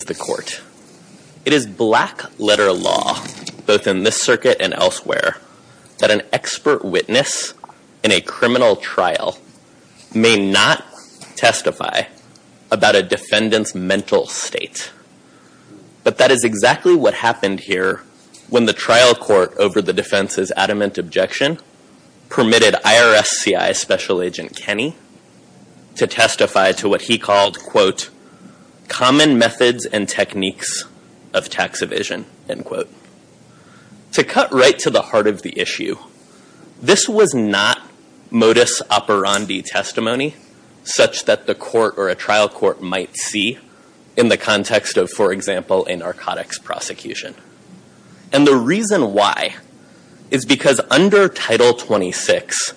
It is black letter law, both in this circuit and elsewhere, that an expert witness in a criminal trial may not testify about a defendant's mental state. But that is exactly what happened here when the trial court, over the defense's adamant objection, permitted IRSCI Special Agent Kenny to testify to what he called, quote, that the court or a trial court might see in the context of, for example, a narcotics prosecution. And the reason why is because under Title 26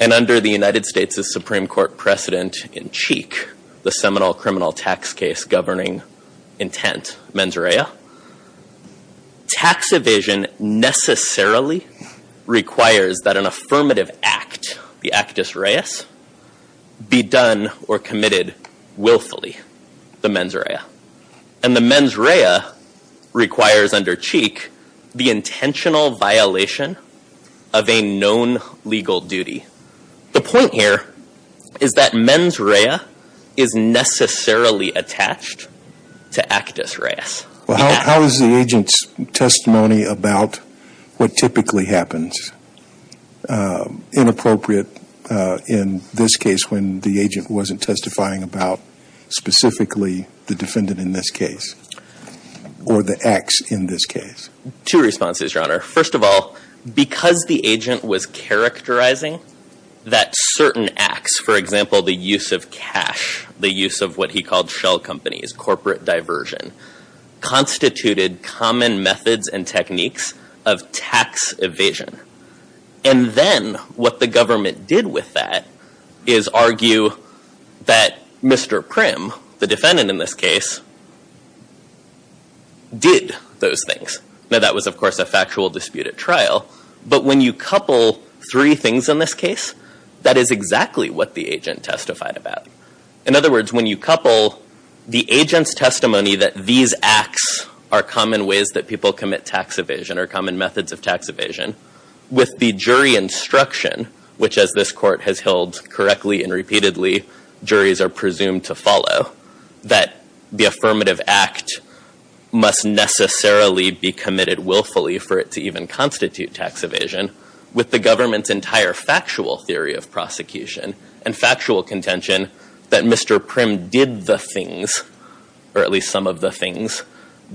and under the United States' Supreme Court precedent in CHIC, the Seminole Criminal Tax Case Governing Intent, mens rea, tax evasion necessarily requires that an affirmative act, the actus reus, be done or committed willfully, the mens rea. And the mens rea requires under CHIC the intentional violation of a known legal duty. The point here is that mens rea is necessarily attached to actus reus. Well, how is the agent's testimony about what typically happens inappropriate in this case when the agent wasn't testifying about specifically the defendant in this case or the acts in this case? First of all, because the agent was characterizing that certain acts, for example, the use of cash, the use of what he called shell companies, corporate diversion, constituted common methods and techniques of tax evasion. And then what the government did with that is argue that Mr. Prim, the defendant in this case, did those things. Now, that was, of course, a factual dispute at trial. But when you couple three things in this case, that is exactly what the agent testified about. In other words, when you couple the agent's testimony that these acts are common ways that people commit tax evasion or common methods of tax evasion with the jury instruction, which as this court has held correctly and repeatedly, juries are presumed to follow, that the affirmative act must necessarily be committed willfully for it to even constitute tax evasion, with the government's entire factual theory of prosecution and factual contention that Mr. Prim did the things, or at least some of the things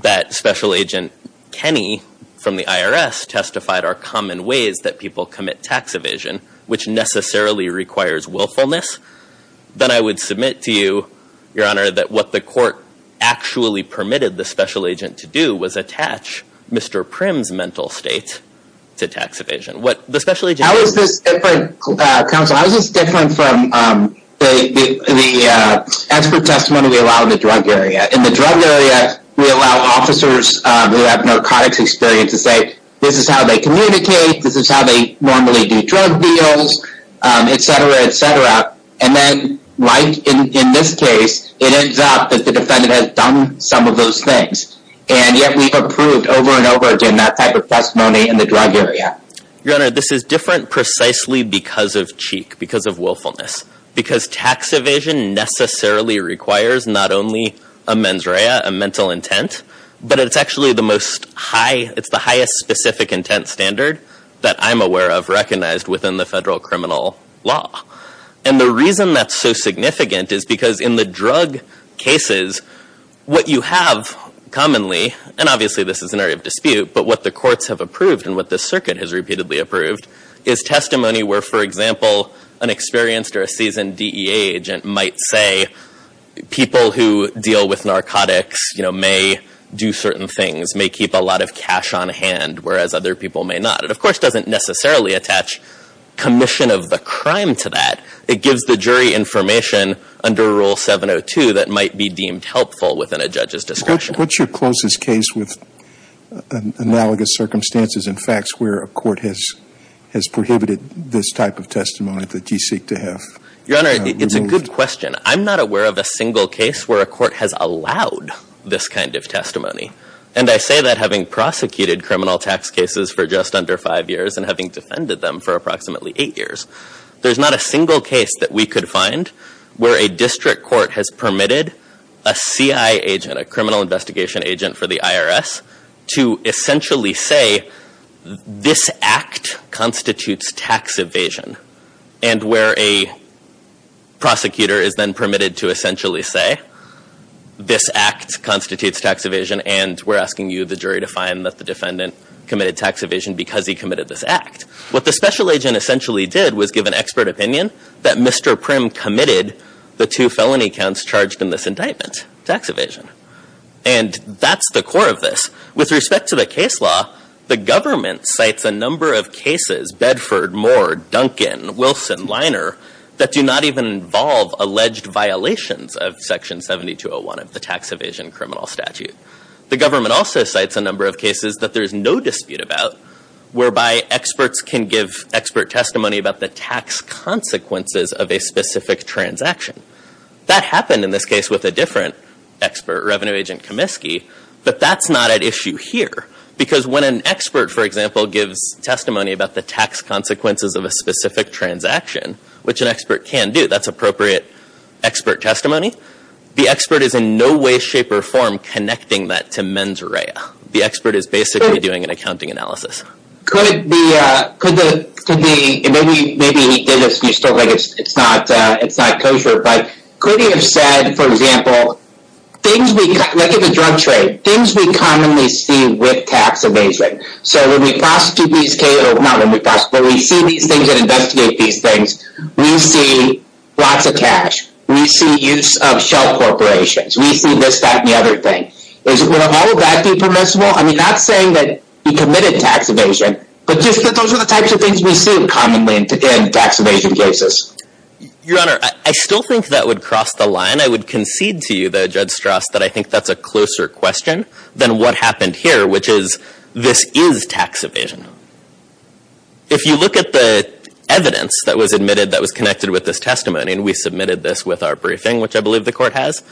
that Special Agent Kenny from the IRS testified are common ways that people commit tax evasion, which necessarily requires willfulness, then I would submit to you, Your Honor, that what the court actually permitted the Special Agent to do was attach Mr. Prim's mental state to tax evasion. How is this different, counsel, how is this different from the expert testimony we allow in the drug area? In the drug area, we allow officers who have narcotics experience to say, this is how they communicate, this is how they normally do drug deals, etc., etc. And then, like in this case, it ends up that the defendant has done some of those things. And yet we've approved over and over again that type of testimony in the drug area. Your Honor, this is different precisely because of cheek, because of willfulness, because tax evasion necessarily requires not only a mens rea, a mental intent, but it's actually the most high, it's the highest specific intent standard that I'm aware of recognized within the federal criminal law. And the reason that's so significant is because in the drug cases, what you have commonly, and obviously this is an area of dispute, but what the courts have approved and what the circuit has repeatedly approved, is testimony where, for example, an experienced or a seasoned DEA agent might say, people who deal with narcotics, you know, may do certain things, may keep a lot of cash on hand, whereas other people may not. It, of course, doesn't necessarily attach commission of the crime to that. It gives the jury information under Rule 702 that might be deemed helpful within a judge's discretion. What's your closest case with analogous circumstances and facts where a court has prohibited this type of testimony that you seek to have removed? Your Honor, it's a good question. I'm not aware of a single case where a court has allowed this kind of testimony. And I say that having prosecuted criminal tax cases for just under five years and having defended them for approximately eight years. There's not a single case that we could find where a district court has permitted a CI agent, a criminal investigation agent for the IRS, to essentially say, this act constitutes tax evasion. And where a prosecutor is then permitted to essentially say, this act constitutes tax evasion, and we're asking you, the jury, to find that the defendant committed tax evasion because he committed this act. What the special agent essentially did was give an expert opinion that Mr. Prim committed the two felony counts charged in this indictment, tax evasion. And that's the core of this. With respect to the case law, the government cites a number of cases, Bedford, Moore, Duncan, Wilson, Liner, that do not even involve alleged violations of Section 7201 of the tax evasion criminal statute. The government also cites a number of cases that there's no dispute about, whereby experts can give expert testimony about the tax consequences of a specific transaction. That happened in this case with a different expert, Revenue Agent Comiskey, but that's not at issue here. Because when an expert, for example, gives testimony about the tax consequences of a specific transaction, which an expert can do, that's appropriate expert testimony, the expert is in no way, shape, or form connecting that to mens rea. The expert is basically doing an accounting analysis. Could the, maybe he did this and you still think it's not kosher, but could he have said, for example, things we, like in the drug trade, things we commonly see with tax evasion. So when we prosecute these cases, not when we prosecute, when we see these things and investigate these things, we see lots of cash, we see use of shell corporations, we see this, that, and the other thing. Would all of that be permissible? I'm not saying that he committed tax evasion, but just that those are the types of things we see commonly in tax evasion cases. Your Honor, I still think that would cross the line. I would concede to you, though, Judge Strauss, that I think that's a closer question than what happened here, which is this is tax evasion. If you look at the evidence that was admitted that was connected with this testimony, and we submitted this with our briefing, which I believe the Court has,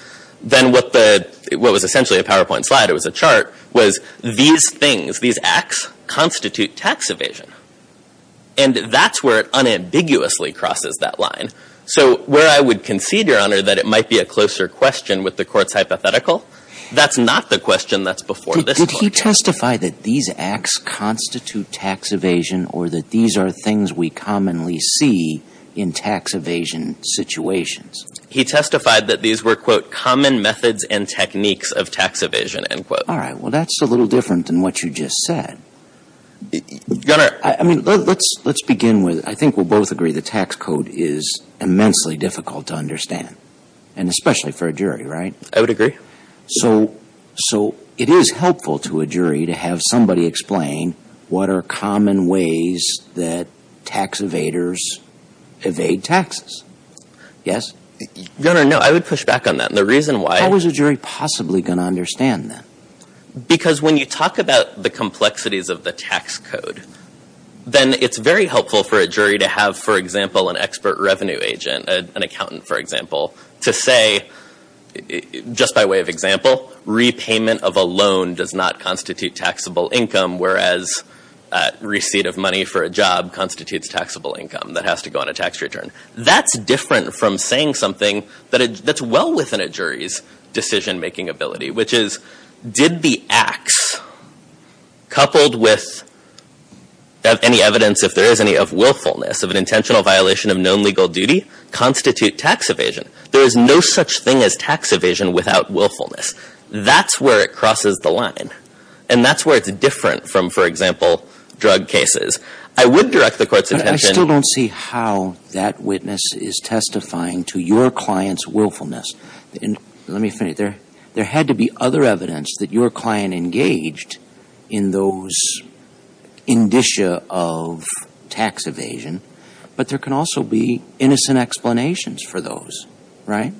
then what the, what was essentially a PowerPoint slide, it was a chart, was these things, these acts constitute tax evasion. And that's where it unambiguously crosses that line. So where I would concede, Your Honor, that it might be a closer question with the Court's hypothetical, that's not the question that's before this Court. Did he testify that these acts constitute tax evasion or that these are things we commonly see in tax evasion situations? He testified that these were, quote, common methods and techniques of tax evasion, end quote. All right. Well, that's a little different than what you just said. Your Honor. I mean, let's begin with, I think we'll both agree the tax code is immensely difficult to understand, and especially for a jury, right? I would agree. So it is helpful to a jury to have somebody explain what are common ways that tax evaders evade taxes. Yes? Your Honor, no, I would push back on that. The reason why. How is a jury possibly going to understand that? Because when you talk about the complexities of the tax code, then it's very helpful for a jury to have, for example, an expert revenue agent, an accountant, for example, to say, just by way of example, repayment of a loan does not constitute taxable income, whereas receipt of money for a job constitutes taxable income that has to go on a tax return. That's different from saying something that's well within a jury's decision-making ability, which is did the acts coupled with any evidence, if there is any, of willfulness, of an intentional violation of known legal duty constitute tax evasion? There is no such thing as tax evasion without willfulness. That's where it crosses the line. And that's where it's different from, for example, drug cases. I would direct the Court's attention. But I still don't see how that witness is testifying to your client's willfulness. Let me finish. There had to be other evidence that your client engaged in those indicia of tax evasion, but there can also be innocent explanations for those, right,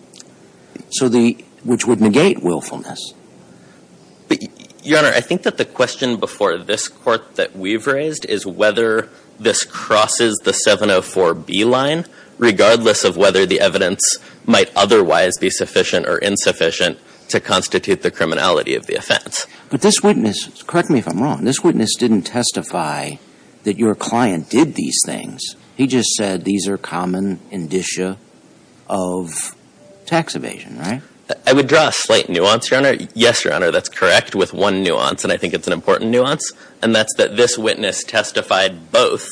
which would negate willfulness. Your Honor, I think that the question before this Court that we've raised is whether this crosses the 704B line, regardless of whether the evidence might otherwise be sufficient or insufficient to constitute the criminality of the offense. But this witness, correct me if I'm wrong, this witness didn't testify that your client did these things. He just said these are common indicia of tax evasion, right? I would draw a slight nuance, Your Honor. Yes, Your Honor, that's correct, with one nuance, and I think it's an important nuance, and that's that this witness testified both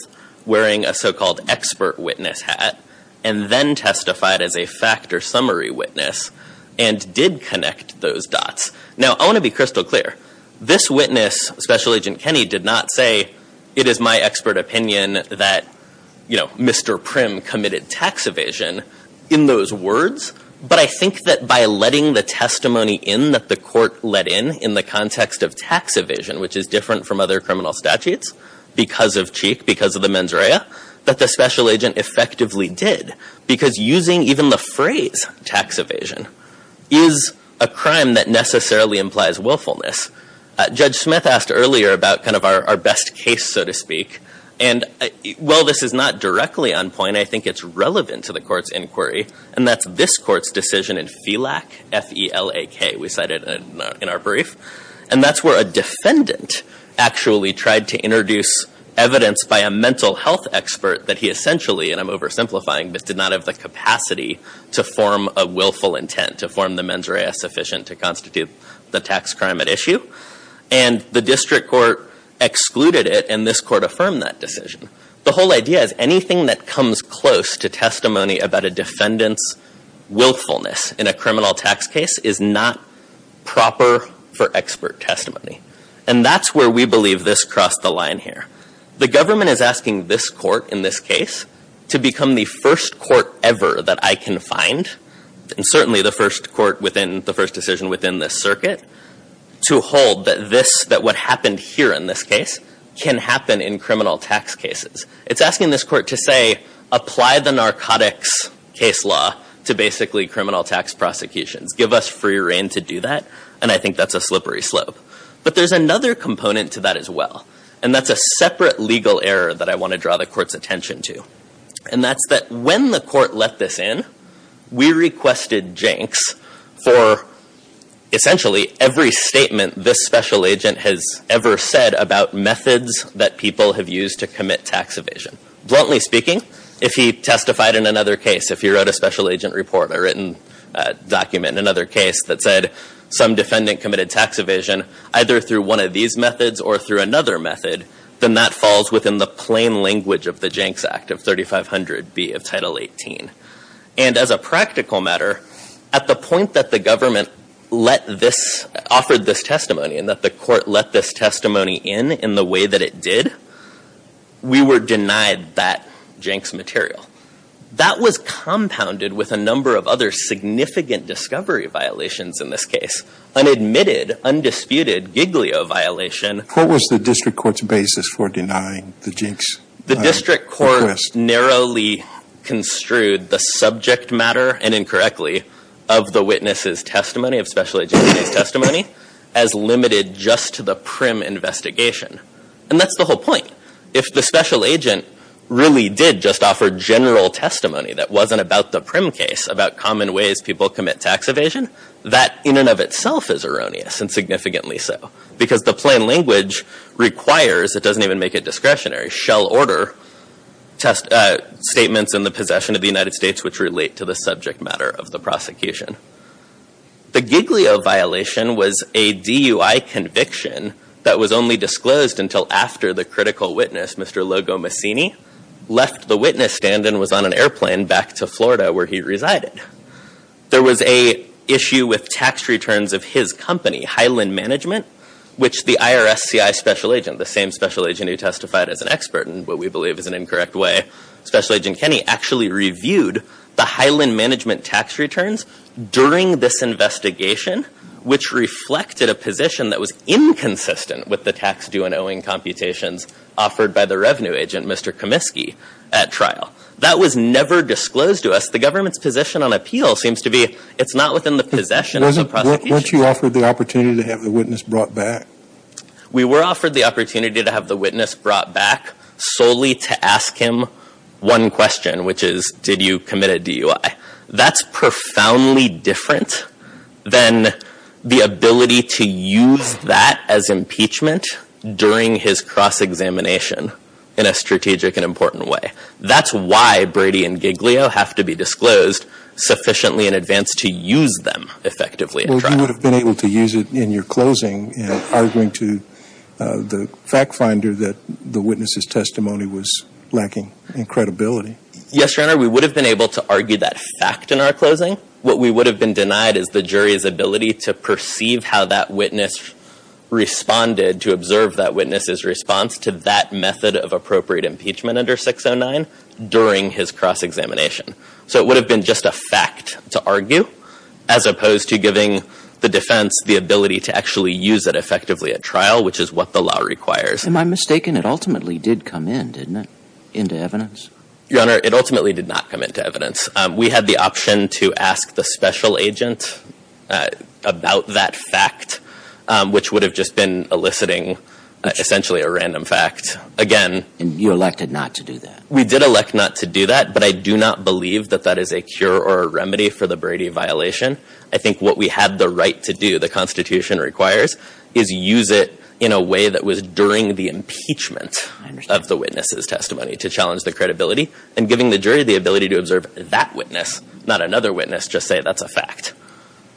wearing a so-called expert witness hat and then testified as a factor summary witness and did connect those dots. Now, I want to be crystal clear. This witness, Special Agent Kenney, did not say, it is my expert opinion that, you know, Mr. Prim committed tax evasion in those words. But I think that by letting the testimony in that the Court let in in the context of tax evasion, which is different from other criminal statutes because of Cheek, because of the mens rea, that the Special Agent effectively did, because using even the phrase tax evasion is a crime that necessarily implies willfulness. Judge Smith asked earlier about kind of our best case, so to speak, and while this is not directly on point, I think it's relevant to the Court's inquiry, and that's this Court's decision in FELAK, F-E-L-A-K, we cited in our brief. And that's where a defendant actually tried to introduce evidence by a mental health expert that he essentially, and I'm oversimplifying, but did not have the capacity to form a willful intent, to form the mens rea sufficient to constitute the tax crime at issue. And the District Court excluded it, and this Court affirmed that decision. The whole idea is anything that comes close to testimony about a defendant's willfulness in a criminal tax case is not proper for expert testimony. And that's where we believe this crossed the line here. The government is asking this Court in this case to become the first Court ever that I can find, and certainly the first Court within the first decision within this circuit, to hold that this, that what happened here in this case, can happen in criminal tax cases. It's asking this Court to say, apply the narcotics case law to basically criminal tax prosecutions. Give us free rein to do that, and I think that's a slippery slope. But there's another component to that as well. And that's a separate legal error that I want to draw the Court's attention to. And that's that when the Court let this in, we requested janks for, essentially, every statement this special agent has ever said about methods that people have used to commit tax evasion. Bluntly speaking, if he testified in another case, if he wrote a special agent report, a written document in another case that said some defendant committed tax evasion, either through one of these methods or through another method, then that falls within the plain language of the Janks Act of 3500B of Title 18. And as a practical matter, at the point that the government let this, offered this testimony and that the Court let this testimony in in the way that it did, we were denied that janks material. That was compounded with a number of other significant discovery violations in this case. An admitted, undisputed giglio violation. What was the District Court's basis for denying the janks? The District Court narrowly construed the subject matter, and incorrectly, of the witness's testimony, of special agent's testimony, as limited just to the prim investigation. And that's the whole point. If the special agent really did just offer general testimony that wasn't about the prim case, about common ways people commit tax evasion, that in and of itself is erroneous, and significantly so. Because the plain language requires, it doesn't even make it discretionary, shall order statements in the possession of the United States which relate to the subject matter of the prosecution. The giglio violation was a DUI conviction that was only disclosed until after the critical witness, Mr. Logo Mussini, left the witness stand and was on an airplane back to Florida where he resided. There was a issue with tax returns of his company, Highland Management, which the IRSCI special agent, the same special agent who testified as an expert in what we believe is an incorrect way, Special Agent Kenny, actually reviewed the Highland Management tax returns during this investigation, which reflected a position that was inconsistent with the tax due and owing computations offered by the revenue agent, Mr. Comiskey, at trial. That was never disclosed to us. The government's position on appeal seems to be it's not within the possession of the prosecution. Weren't you offered the opportunity to have the witness brought back? We were offered the opportunity to have the witness brought back solely to ask him one question, which is did you commit a DUI? That's profoundly different than the ability to use that as impeachment during his cross-examination in a strategic and important way. That's why Brady and Giglio have to be disclosed sufficiently in advance to use them effectively at trial. Well, you would have been able to use it in your closing in arguing to the fact finder that the witness's testimony was lacking in credibility. Yes, Your Honor, we would have been able to argue that fact in our closing. What we would have been denied is the jury's ability to perceive how that witness responded, to observe that witness's response to that method of appropriate impeachment under 609 during his cross-examination. So it would have been just a fact to argue, as opposed to giving the defense the ability to actually use it effectively at trial, which is what the law requires. Am I mistaken? It ultimately did come in, didn't it, into evidence? Your Honor, it ultimately did not come into evidence. We had the option to ask the special agent about that fact, which would have just been eliciting essentially a random fact. And you elected not to do that? We did elect not to do that, but I do not believe that that is a cure or a remedy for the Brady violation. I think what we had the right to do, the Constitution requires, is use it in a way that was during the impeachment of the witness's testimony to challenge the credibility, and giving the jury the ability to observe that witness, not another witness, just say that's a fact.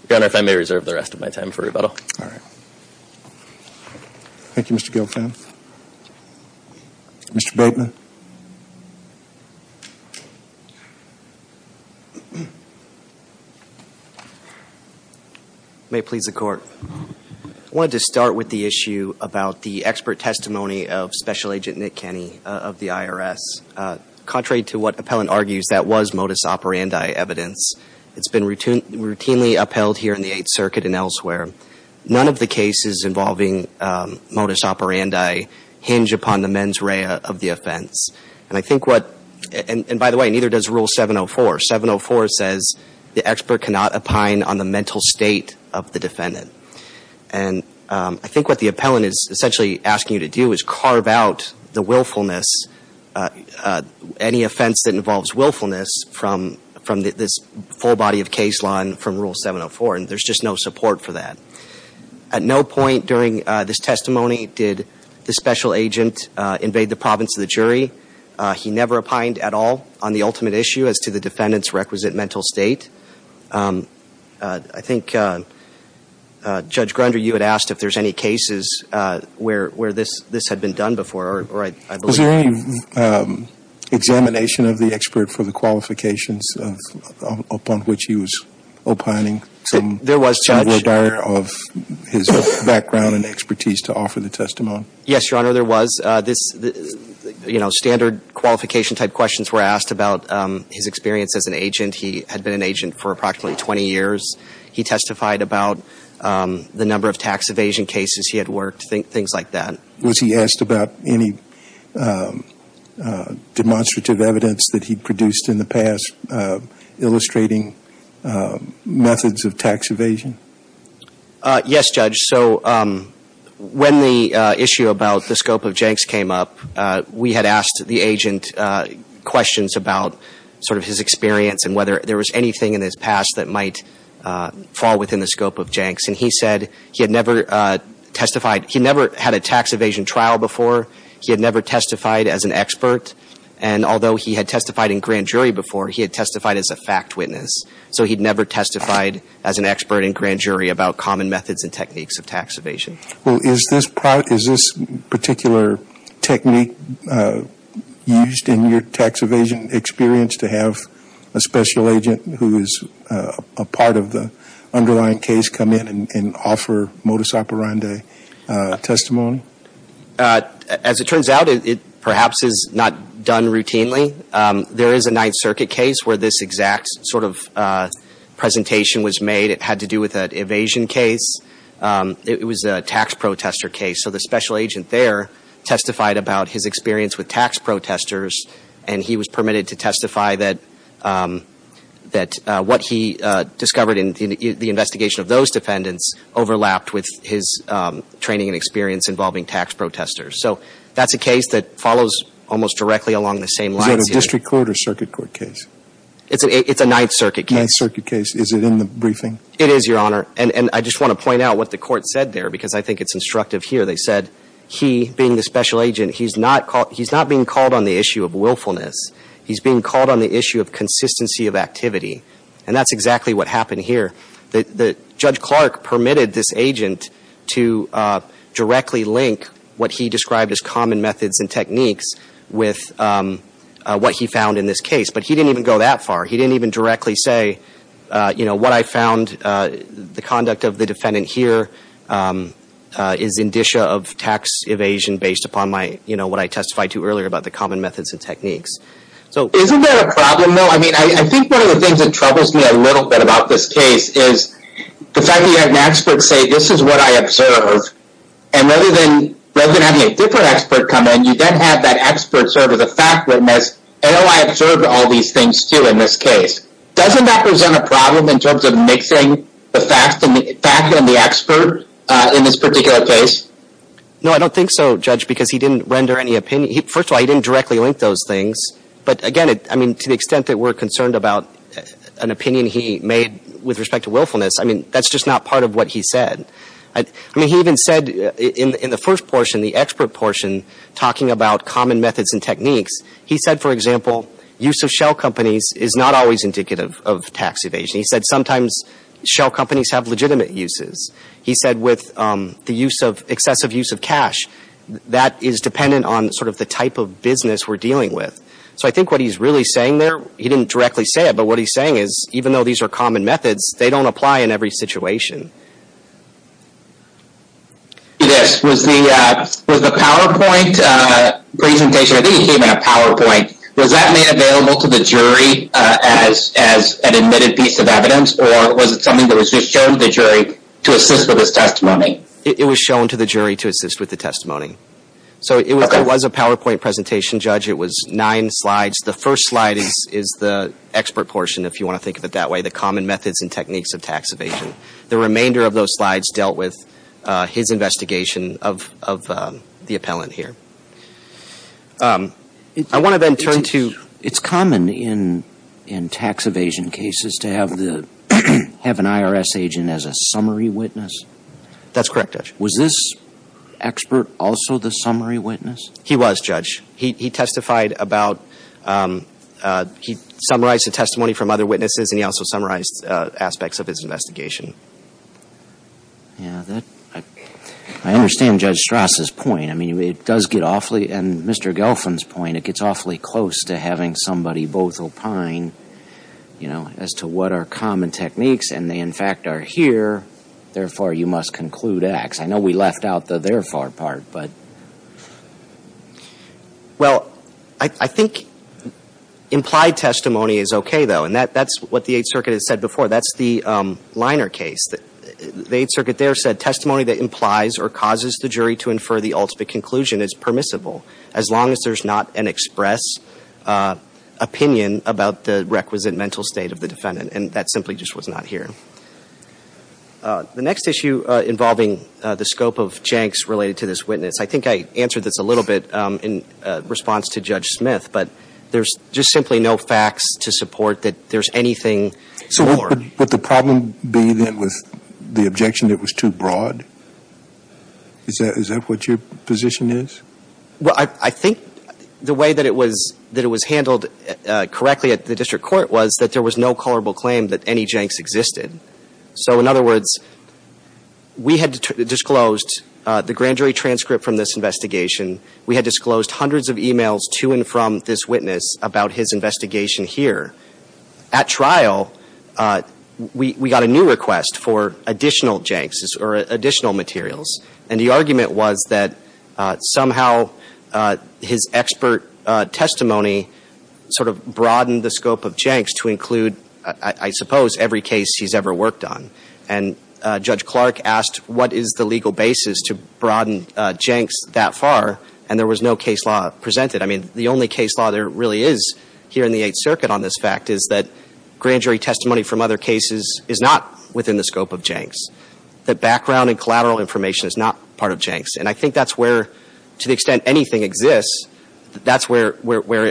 Your Honor, if I may reserve the rest of my time for rebuttal. All right. Thank you, Mr. Gilfant. Mr. Bateman. May it please the Court. I wanted to start with the issue about the expert testimony of Special Agent Nick Kenney of the IRS. Contrary to what appellant argues, that was modus operandi evidence. It's been routinely upheld here in the Eighth Circuit and elsewhere. None of the cases involving modus operandi hinge upon the mens rea of the offense. And I think what, and by the way, neither does Rule 704. 704 says the expert cannot opine on the mental state of the defendant. And I think what the appellant is essentially asking you to do is carve out the willfulness, any offense that involves willfulness from this full body of case law and from Rule 704. And there's just no support for that. At no point during this testimony did the Special Agent invade the province of the jury. He never opined at all on the ultimate issue as to the defendant's requisite mental state. I think, Judge Grunder, you had asked if there's any cases where this had been done before. Was there any examination of the expert for the qualifications upon which he was opining? There was, Judge. Some regard of his background and expertise to offer the testimony? Yes, Your Honor, there was. You know, standard qualification type questions were asked about his experience as an agent. He had been an agent for approximately 20 years. He testified about the number of tax evasion cases he had worked, things like that. Was he asked about any demonstrative evidence that he produced in the past illustrating methods of tax evasion? Yes, Judge. So when the issue about the scope of Jenks came up, we had asked the agent questions about sort of his experience and whether there was anything in his past that might fall within the scope of Jenks. And he said he had never testified. He never had a tax evasion trial before. He had never testified as an expert. And although he had testified in grand jury before, he had testified as a fact witness. So he had never testified as an expert in grand jury about common methods and techniques of tax evasion. Well, is this particular technique used in your tax evasion experience to have a special agent who is a part of the underlying case come in and offer modus operandi testimony? As it turns out, it perhaps is not done routinely. There is a Ninth Circuit case where this exact sort of presentation was made. It had to do with an evasion case. It was a tax protester case. So the special agent there testified about his experience with tax protesters, and he was permitted to testify that what he discovered in the investigation of those defendants overlapped with his training and experience involving tax protesters. So that's a case that follows almost directly along the same lines. Is it a district court or circuit court case? It's a Ninth Circuit case. Ninth Circuit case. Is it in the briefing? It is, Your Honor. And I just want to point out what the court said there because I think it's instructive here. They said he, being the special agent, he's not being called on the issue of willfulness. He's being called on the issue of consistency of activity. And that's exactly what happened here. Judge Clark permitted this agent to directly link what he described as common methods and techniques with what he found in this case. But he didn't even go that far. He didn't even directly say, you know, what I found, the conduct of the defendant here is indicia of tax evasion based upon what I testified to earlier about the common methods and techniques. Isn't that a problem, though? I mean, I think one of the things that troubles me a little bit about this case is the fact that you have an expert say, this is what I observed. And rather than having a different expert come in, you then have that expert serve as a fact witness, and, oh, I observed all these things, too, in this case. Doesn't that present a problem in terms of mixing the fact and the expert in this particular case? No, I don't think so, Judge, because he didn't render any opinion. First of all, he didn't directly link those things. But, again, I mean, to the extent that we're concerned about an opinion he made with respect to willfulness, I mean, that's just not part of what he said. I mean, he even said in the first portion, the expert portion, talking about common methods and techniques, he said, for example, use of shell companies is not always indicative of tax evasion. He said sometimes shell companies have legitimate uses. He said with the excessive use of cash, that is dependent on sort of the type of business we're dealing with. So I think what he's really saying there, he didn't directly say it, but what he's saying is even though these are common methods, they don't apply in every situation. Yes, was the PowerPoint presentation, I think he gave a PowerPoint, was that made available to the jury as an admitted piece of evidence, or was it something that was just shown to the jury to assist with his testimony? It was shown to the jury to assist with the testimony. So it was a PowerPoint presentation, Judge. It was nine slides. The first slide is the expert portion, if you want to think of it that way, the common methods and techniques of tax evasion. The remainder of those slides dealt with his investigation of the appellant here. I want to then turn to – It's common in tax evasion cases to have an IRS agent as a summary witness. That's correct, Judge. Was this expert also the summary witness? He was, Judge. He testified about – he summarized the testimony from other witnesses, and he also summarized aspects of his investigation. I understand Judge Strass' point. I mean, it does get awfully – and Mr. Gelfand's point, it gets awfully close to having somebody both opine as to what are common techniques, and they, in fact, are here, therefore, you must conclude X. I know we left out the therefore part, but – Well, I think implied testimony is okay, though, and that's what the Eighth Circuit has said before. That's the Liner case. The Eighth Circuit there said testimony that implies or causes the jury to infer the ultimate conclusion is permissible, as long as there's not an express opinion about the requisite mental state of the defendant, and that simply just was not here. The next issue involving the scope of janks related to this witness, I think I answered this a little bit in response to Judge Smith, but there's just simply no facts to support that there's anything more. So would the problem be, then, with the objection that it was too broad? Is that what your position is? Well, I think the way that it was handled correctly at the district court was that there was no culpable claim that any janks existed. So in other words, we had disclosed the grand jury transcript from this investigation. We had disclosed hundreds of emails to and from this witness about his investigation here. At trial, we got a new request for additional janks or additional materials, and the argument was that somehow his expert testimony sort of broadened the scope of janks to include, I suppose, every case he's ever worked on. And Judge Clark asked what is the legal basis to broaden janks that far, and there was no case law presented. I mean, the only case law there really is here in the Eighth Circuit on this fact is that grand jury testimony from other cases is not within the scope of janks, that background and collateral information is not part of janks. And I think that's where, to the extent anything exists, that's where it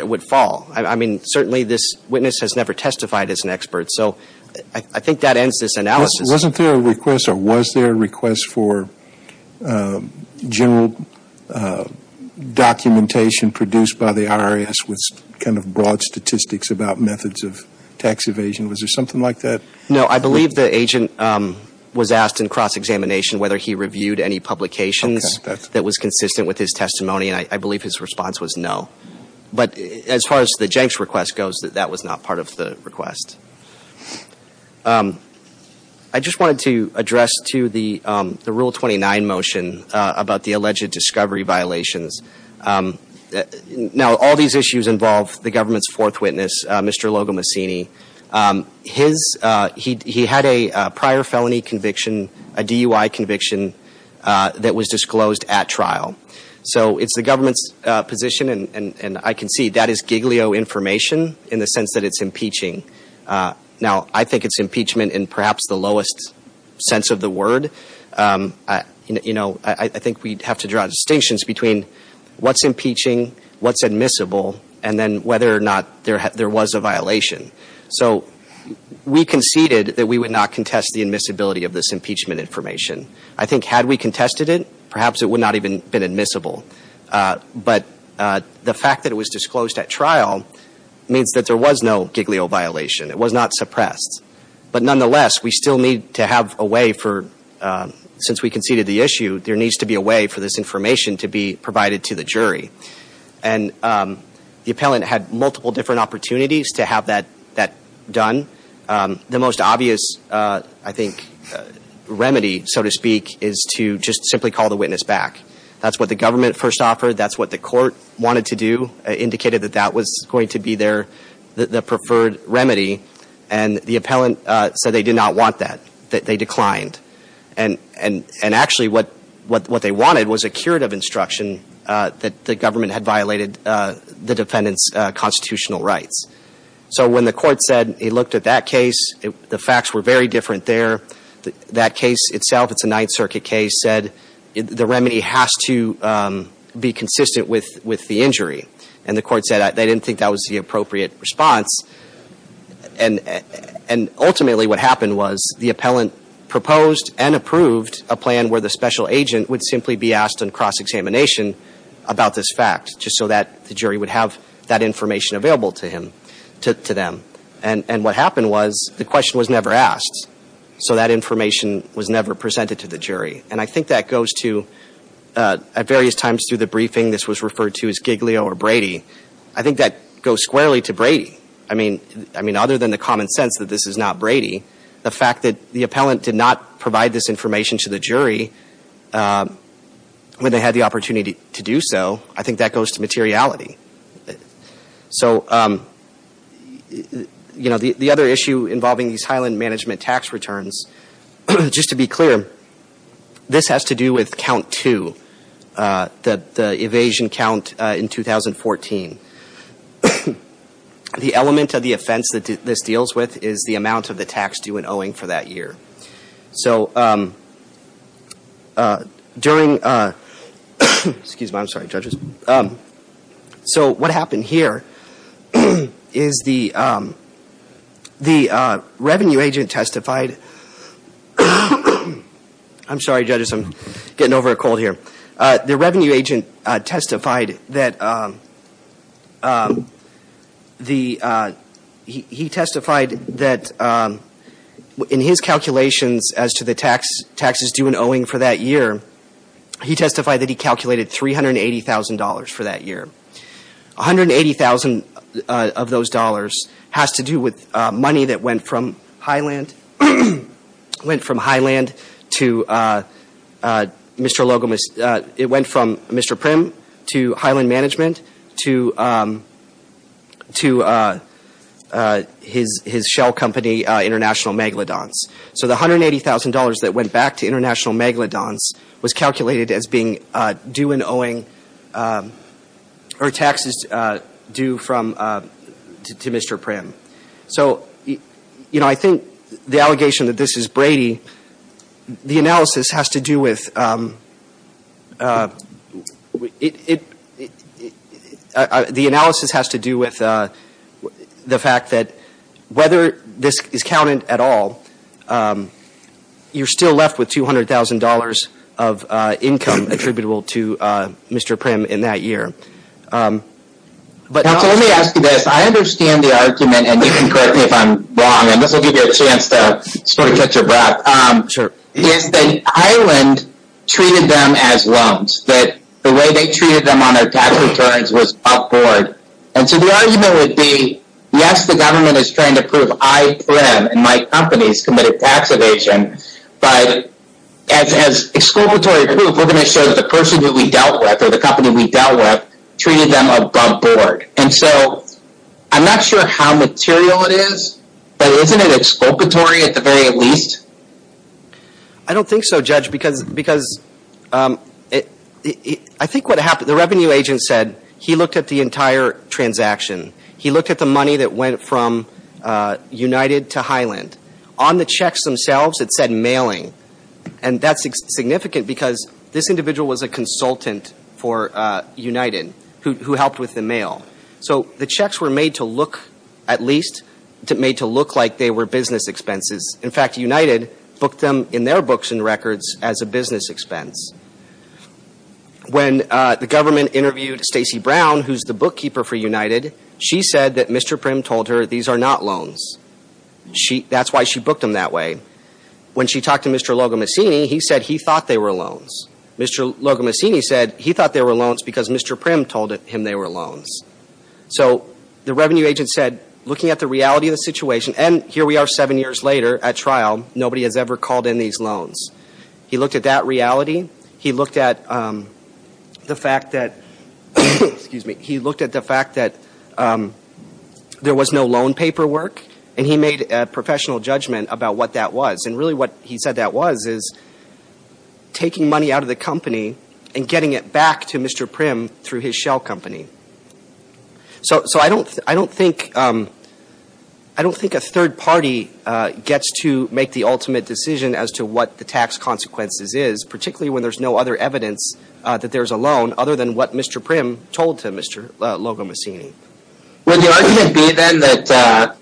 would fall. I mean, certainly this witness has never testified as an expert, so I think that ends this analysis. Wasn't there a request or was there a request for general documentation produced by the IRS with kind of broad statistics about methods of tax evasion? Was there something like that? No, I believe the agent was asked in cross-examination whether he reviewed any publications that was consistent with his testimony, and I believe his response was no. But as far as the janks request goes, that was not part of the request. I just wanted to address, too, the Rule 29 motion about the alleged discovery violations. Now, all these issues involve the government's fourth witness, Mr. Logo Mussini. He had a prior felony conviction, a DUI conviction, that was disclosed at trial. So it's the government's position, and I can see that is giglio information in the sense that it's impeaching. Now, I think it's impeachment in perhaps the lowest sense of the word. You know, I think we'd have to draw distinctions between what's impeaching, what's admissible, and then whether or not there was a violation. So we conceded that we would not contest the admissibility of this impeachment information. I think had we contested it, perhaps it would not have even been admissible. But the fact that it was disclosed at trial means that there was no giglio violation. It was not suppressed. But nonetheless, we still need to have a way for, since we conceded the issue, there needs to be a way for this information to be provided to the jury. And the appellant had multiple different opportunities to have that done. The most obvious, I think, remedy, so to speak, is to just simply call the witness back. That's what the government first offered. That's what the court wanted to do, indicated that that was going to be their preferred remedy. And the appellant said they did not want that, that they declined. And actually what they wanted was a curative instruction that the government had violated the defendant's constitutional rights. So when the court said it looked at that case, the facts were very different there. That case itself, it's a Ninth Circuit case, said the remedy has to be consistent with the injury. And the court said they didn't think that was the appropriate response. And ultimately what happened was the appellant proposed and approved a plan where the special agent would simply be asked on cross-examination about this fact, just so that the jury would have that information available to them. And what happened was the question was never asked, so that information was never presented to the jury. And I think that goes to, at various times through the briefing, this was referred to as Giglio or Brady. I think that goes squarely to Brady. I mean, other than the common sense that this is not Brady, the fact that the appellant did not provide this information to the jury when they had the opportunity to do so, I think that goes to materiality. So, you know, the other issue involving these Highland Management tax returns, just to be clear, this has to do with count two, the evasion count in 2014. The element of the offense that this deals with is the amount of the tax due and owing for that year. So during – excuse me, I'm sorry, judges. So what happened here is the revenue agent testified – I'm sorry, judges, I'm getting over a cold here. The revenue agent testified that the – he testified that in his calculations as to the taxes due and owing for that year, he testified that he calculated $380,000 for that year. $180,000 of those dollars has to do with money that went from Highland – went from Highland to Mr. Logan – it went from Mr. Prim to Highland Management to his shell company, International Megalodons. So the $180,000 that went back to International Megalodons was calculated as being due and owing – or taxes due from – to Mr. Prim. So, you know, I think the allegation that this is Brady, the analysis has to do with – you're still left with $200,000 of income attributable to Mr. Prim in that year. Let me ask you this. I understand the argument, and you can correct me if I'm wrong, and this will give you a chance to sort of catch your breath. Sure. Is that Highland treated them as loans, that the way they treated them on their tax returns was upward. And so the argument would be, yes, the government is trying to prove I, Prim, and my companies committed tax evasion, but as exculpatory proof, we're going to show that the person who we dealt with or the company we dealt with treated them above board. And so I'm not sure how material it is, but isn't it exculpatory at the very least? I don't think so, Judge, because I think what happened – the revenue agent said that he looked at the entire transaction. He looked at the money that went from United to Highland. On the checks themselves, it said mailing. And that's significant because this individual was a consultant for United who helped with the mail. So the checks were made to look at least – made to look like they were business expenses. In fact, United booked them in their books and records as a business expense. When the government interviewed Stacey Brown, who's the bookkeeper for United, she said that Mr. Prim told her these are not loans. That's why she booked them that way. When she talked to Mr. Logomassini, he said he thought they were loans. Mr. Logomassini said he thought they were loans because Mr. Prim told him they were loans. So the revenue agent said, looking at the reality of the situation – and here we are seven years later at trial. Nobody has ever called in these loans. He looked at that reality. He looked at the fact that – excuse me. He looked at the fact that there was no loan paperwork, and he made a professional judgment about what that was. And really what he said that was is taking money out of the company and getting it back to Mr. Prim through his shell company. So I don't think a third party gets to make the ultimate decision as to what the tax consequences is, particularly when there's no other evidence that there's a loan other than what Mr. Prim told to Mr. Logomassini. Would the argument be then that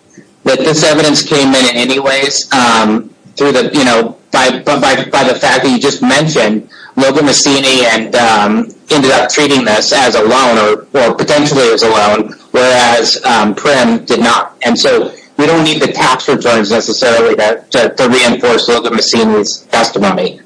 this evidence came in anyways by the fact that you just mentioned Logomassini ended up treating this as a loan, or potentially as a loan, whereas Prim did not? And so we don't need the tax returns necessarily to reinforce Logomassini's testimony.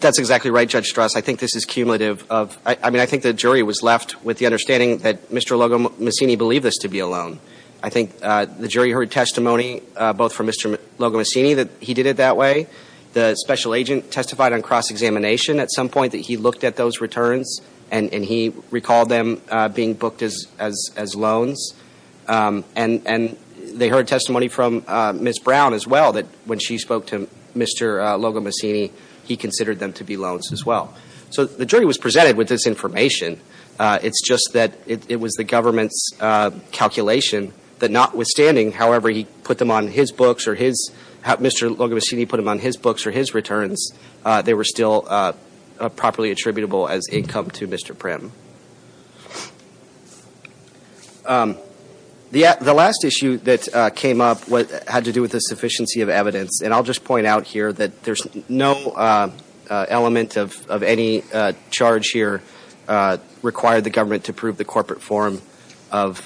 That's exactly right, Judge Strauss. I think this is cumulative of – I mean, I think the jury was left with the understanding that Mr. Logomassini believed this to be a loan. I think the jury heard testimony both from Mr. Logomassini that he did it that way. The special agent testified on cross-examination at some point that he looked at those returns, and he recalled them being booked as loans. And they heard testimony from Ms. Brown as well that when she spoke to Mr. Logomassini, he considered them to be loans as well. So the jury was presented with this information. It's just that it was the government's calculation that notwithstanding however he put them on his books or his – Mr. Logomassini put them on his books or his returns, they were still properly attributable as income to Mr. Prim. The last issue that came up had to do with the sufficiency of evidence. And I'll just point out here that there's no element of any charge here required the government to prove the corporate form of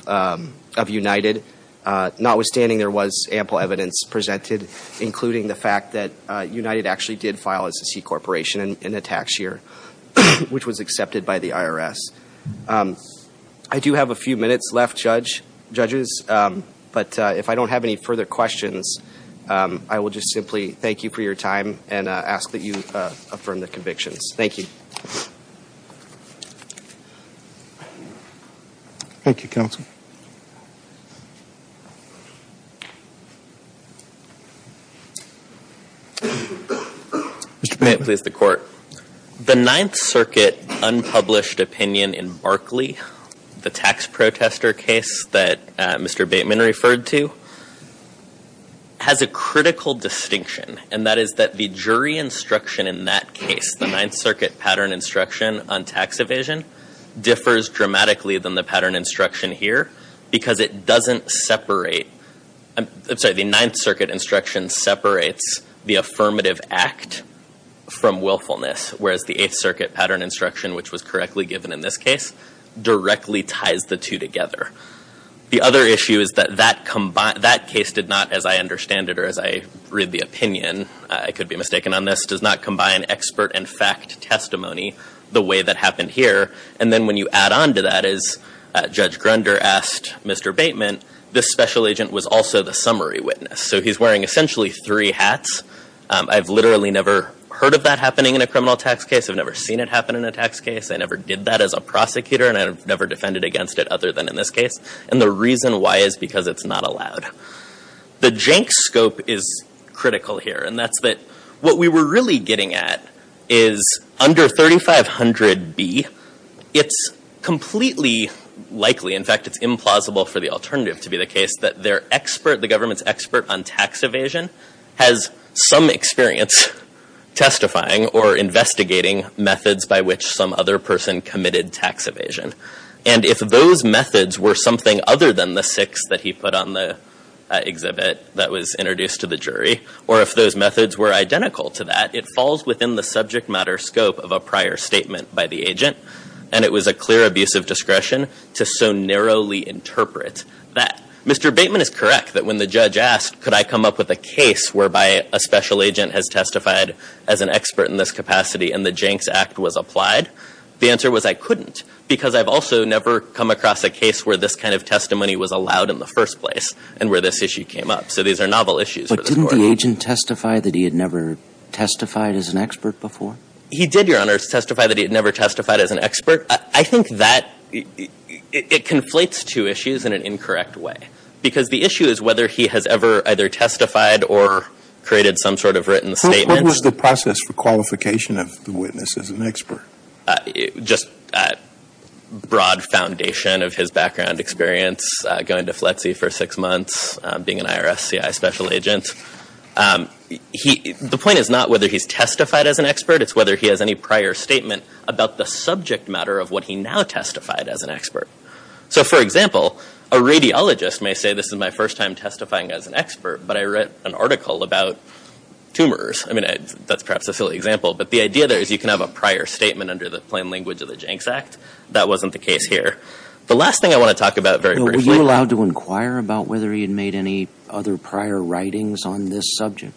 United. Notwithstanding, there was ample evidence presented, including the fact that United actually did file as a C corporation in a tax year, which was accepted by the IRS. I do have a few minutes left, judges, but if I don't have any further questions, I will just simply thank you for your time and ask that you affirm the convictions. Thank you. Thank you, counsel. Mr. Bateman. May it please the court. The Ninth Circuit unpublished opinion in Barkley, the tax protester case that Mr. Bateman referred to, has a critical distinction. And that is that the jury instruction in that case, the Ninth Circuit pattern instruction on tax evasion, differs dramatically than the pattern instruction here because it doesn't separate – I'm sorry, the Ninth Circuit instruction separates the affirmative act from willfulness, whereas the Eighth Circuit pattern instruction, which was correctly given in this case, directly ties the two together. The other issue is that that case did not, as I understand it or as I read the opinion, I could be mistaken on this, does not combine expert and fact testimony the way that happened here. And then when you add on to that is Judge Grunder asked Mr. Bateman, this special agent was also the summary witness. So he's wearing essentially three hats. I've literally never heard of that happening in a criminal tax case. I've never seen it happen in a tax case. I never did that as a prosecutor and I've never defended against it other than in this case. And the reason why is because it's not allowed. The jank scope is critical here. And that's that what we were really getting at is under 3500B, it's completely likely, in fact it's implausible for the alternative to be the case, that their expert, the government's expert on tax evasion, has some experience testifying or investigating methods by which some other person committed tax evasion. And if those methods were something other than the six that he put on the exhibit that was introduced to the jury, or if those methods were identical to that, it falls within the subject matter scope of a prior statement by the agent. And it was a clear abuse of discretion to so narrowly interpret that. Mr. Bateman is correct that when the judge asked, could I come up with a case whereby a special agent has testified as an expert in this capacity and the Janks Act was applied, the answer was I couldn't because I've also never come across a case where this kind of testimony was allowed in the first place and where this issue came up. So these are novel issues. But didn't the agent testify that he had never testified as an expert before? He did, Your Honor, testify that he had never testified as an expert. I think that it conflates two issues in an incorrect way. Because the issue is whether he has ever either testified or created some sort of written statement. What was the process for qualification of the witness as an expert? Just broad foundation of his background experience, going to FLETC for six months, being an IRS CI special agent. The point is not whether he's testified as an expert. It's whether he has any prior statement about the subject matter of what he now testified as an expert. So, for example, a radiologist may say this is my first time testifying as an expert, but I read an article about tumors. I mean, that's perhaps a silly example. But the idea there is you can have a prior statement under the plain language of the Janks Act. That wasn't the case here. The last thing I want to talk about very briefly. Were you allowed to inquire about whether he had made any other prior writings on this subject?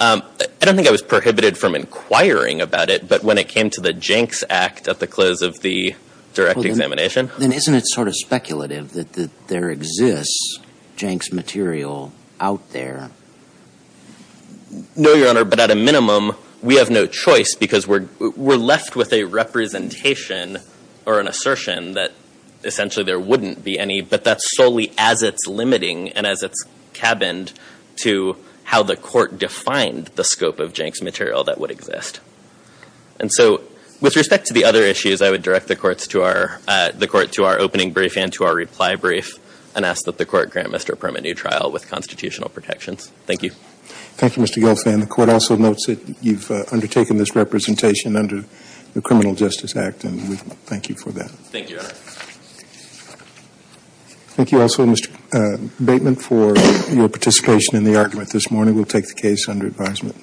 I don't think I was prohibited from inquiring about it, but when it came to the Janks Act at the close of the direct examination. Then isn't it sort of speculative that there exists Janks material out there? No, Your Honor, but at a minimum, we have no choice because we're left with a representation or an assertion that essentially there wouldn't be any, but that's solely as it's limiting and as it's cabined to how the court defined the scope of Janks material that would exist. And so, with respect to the other issues, I would direct the court to our opening brief and to our reply brief and ask that the court grant Mr. Perma new trial with constitutional protections. Thank you. Thank you, Mr. Gilfan. The court also notes that you've undertaken this representation under the Criminal Justice Act, and we thank you for that. Thank you, Your Honor. Thank you also, Mr. Bateman, for your participation in the argument this morning. We'll take the case under advisement.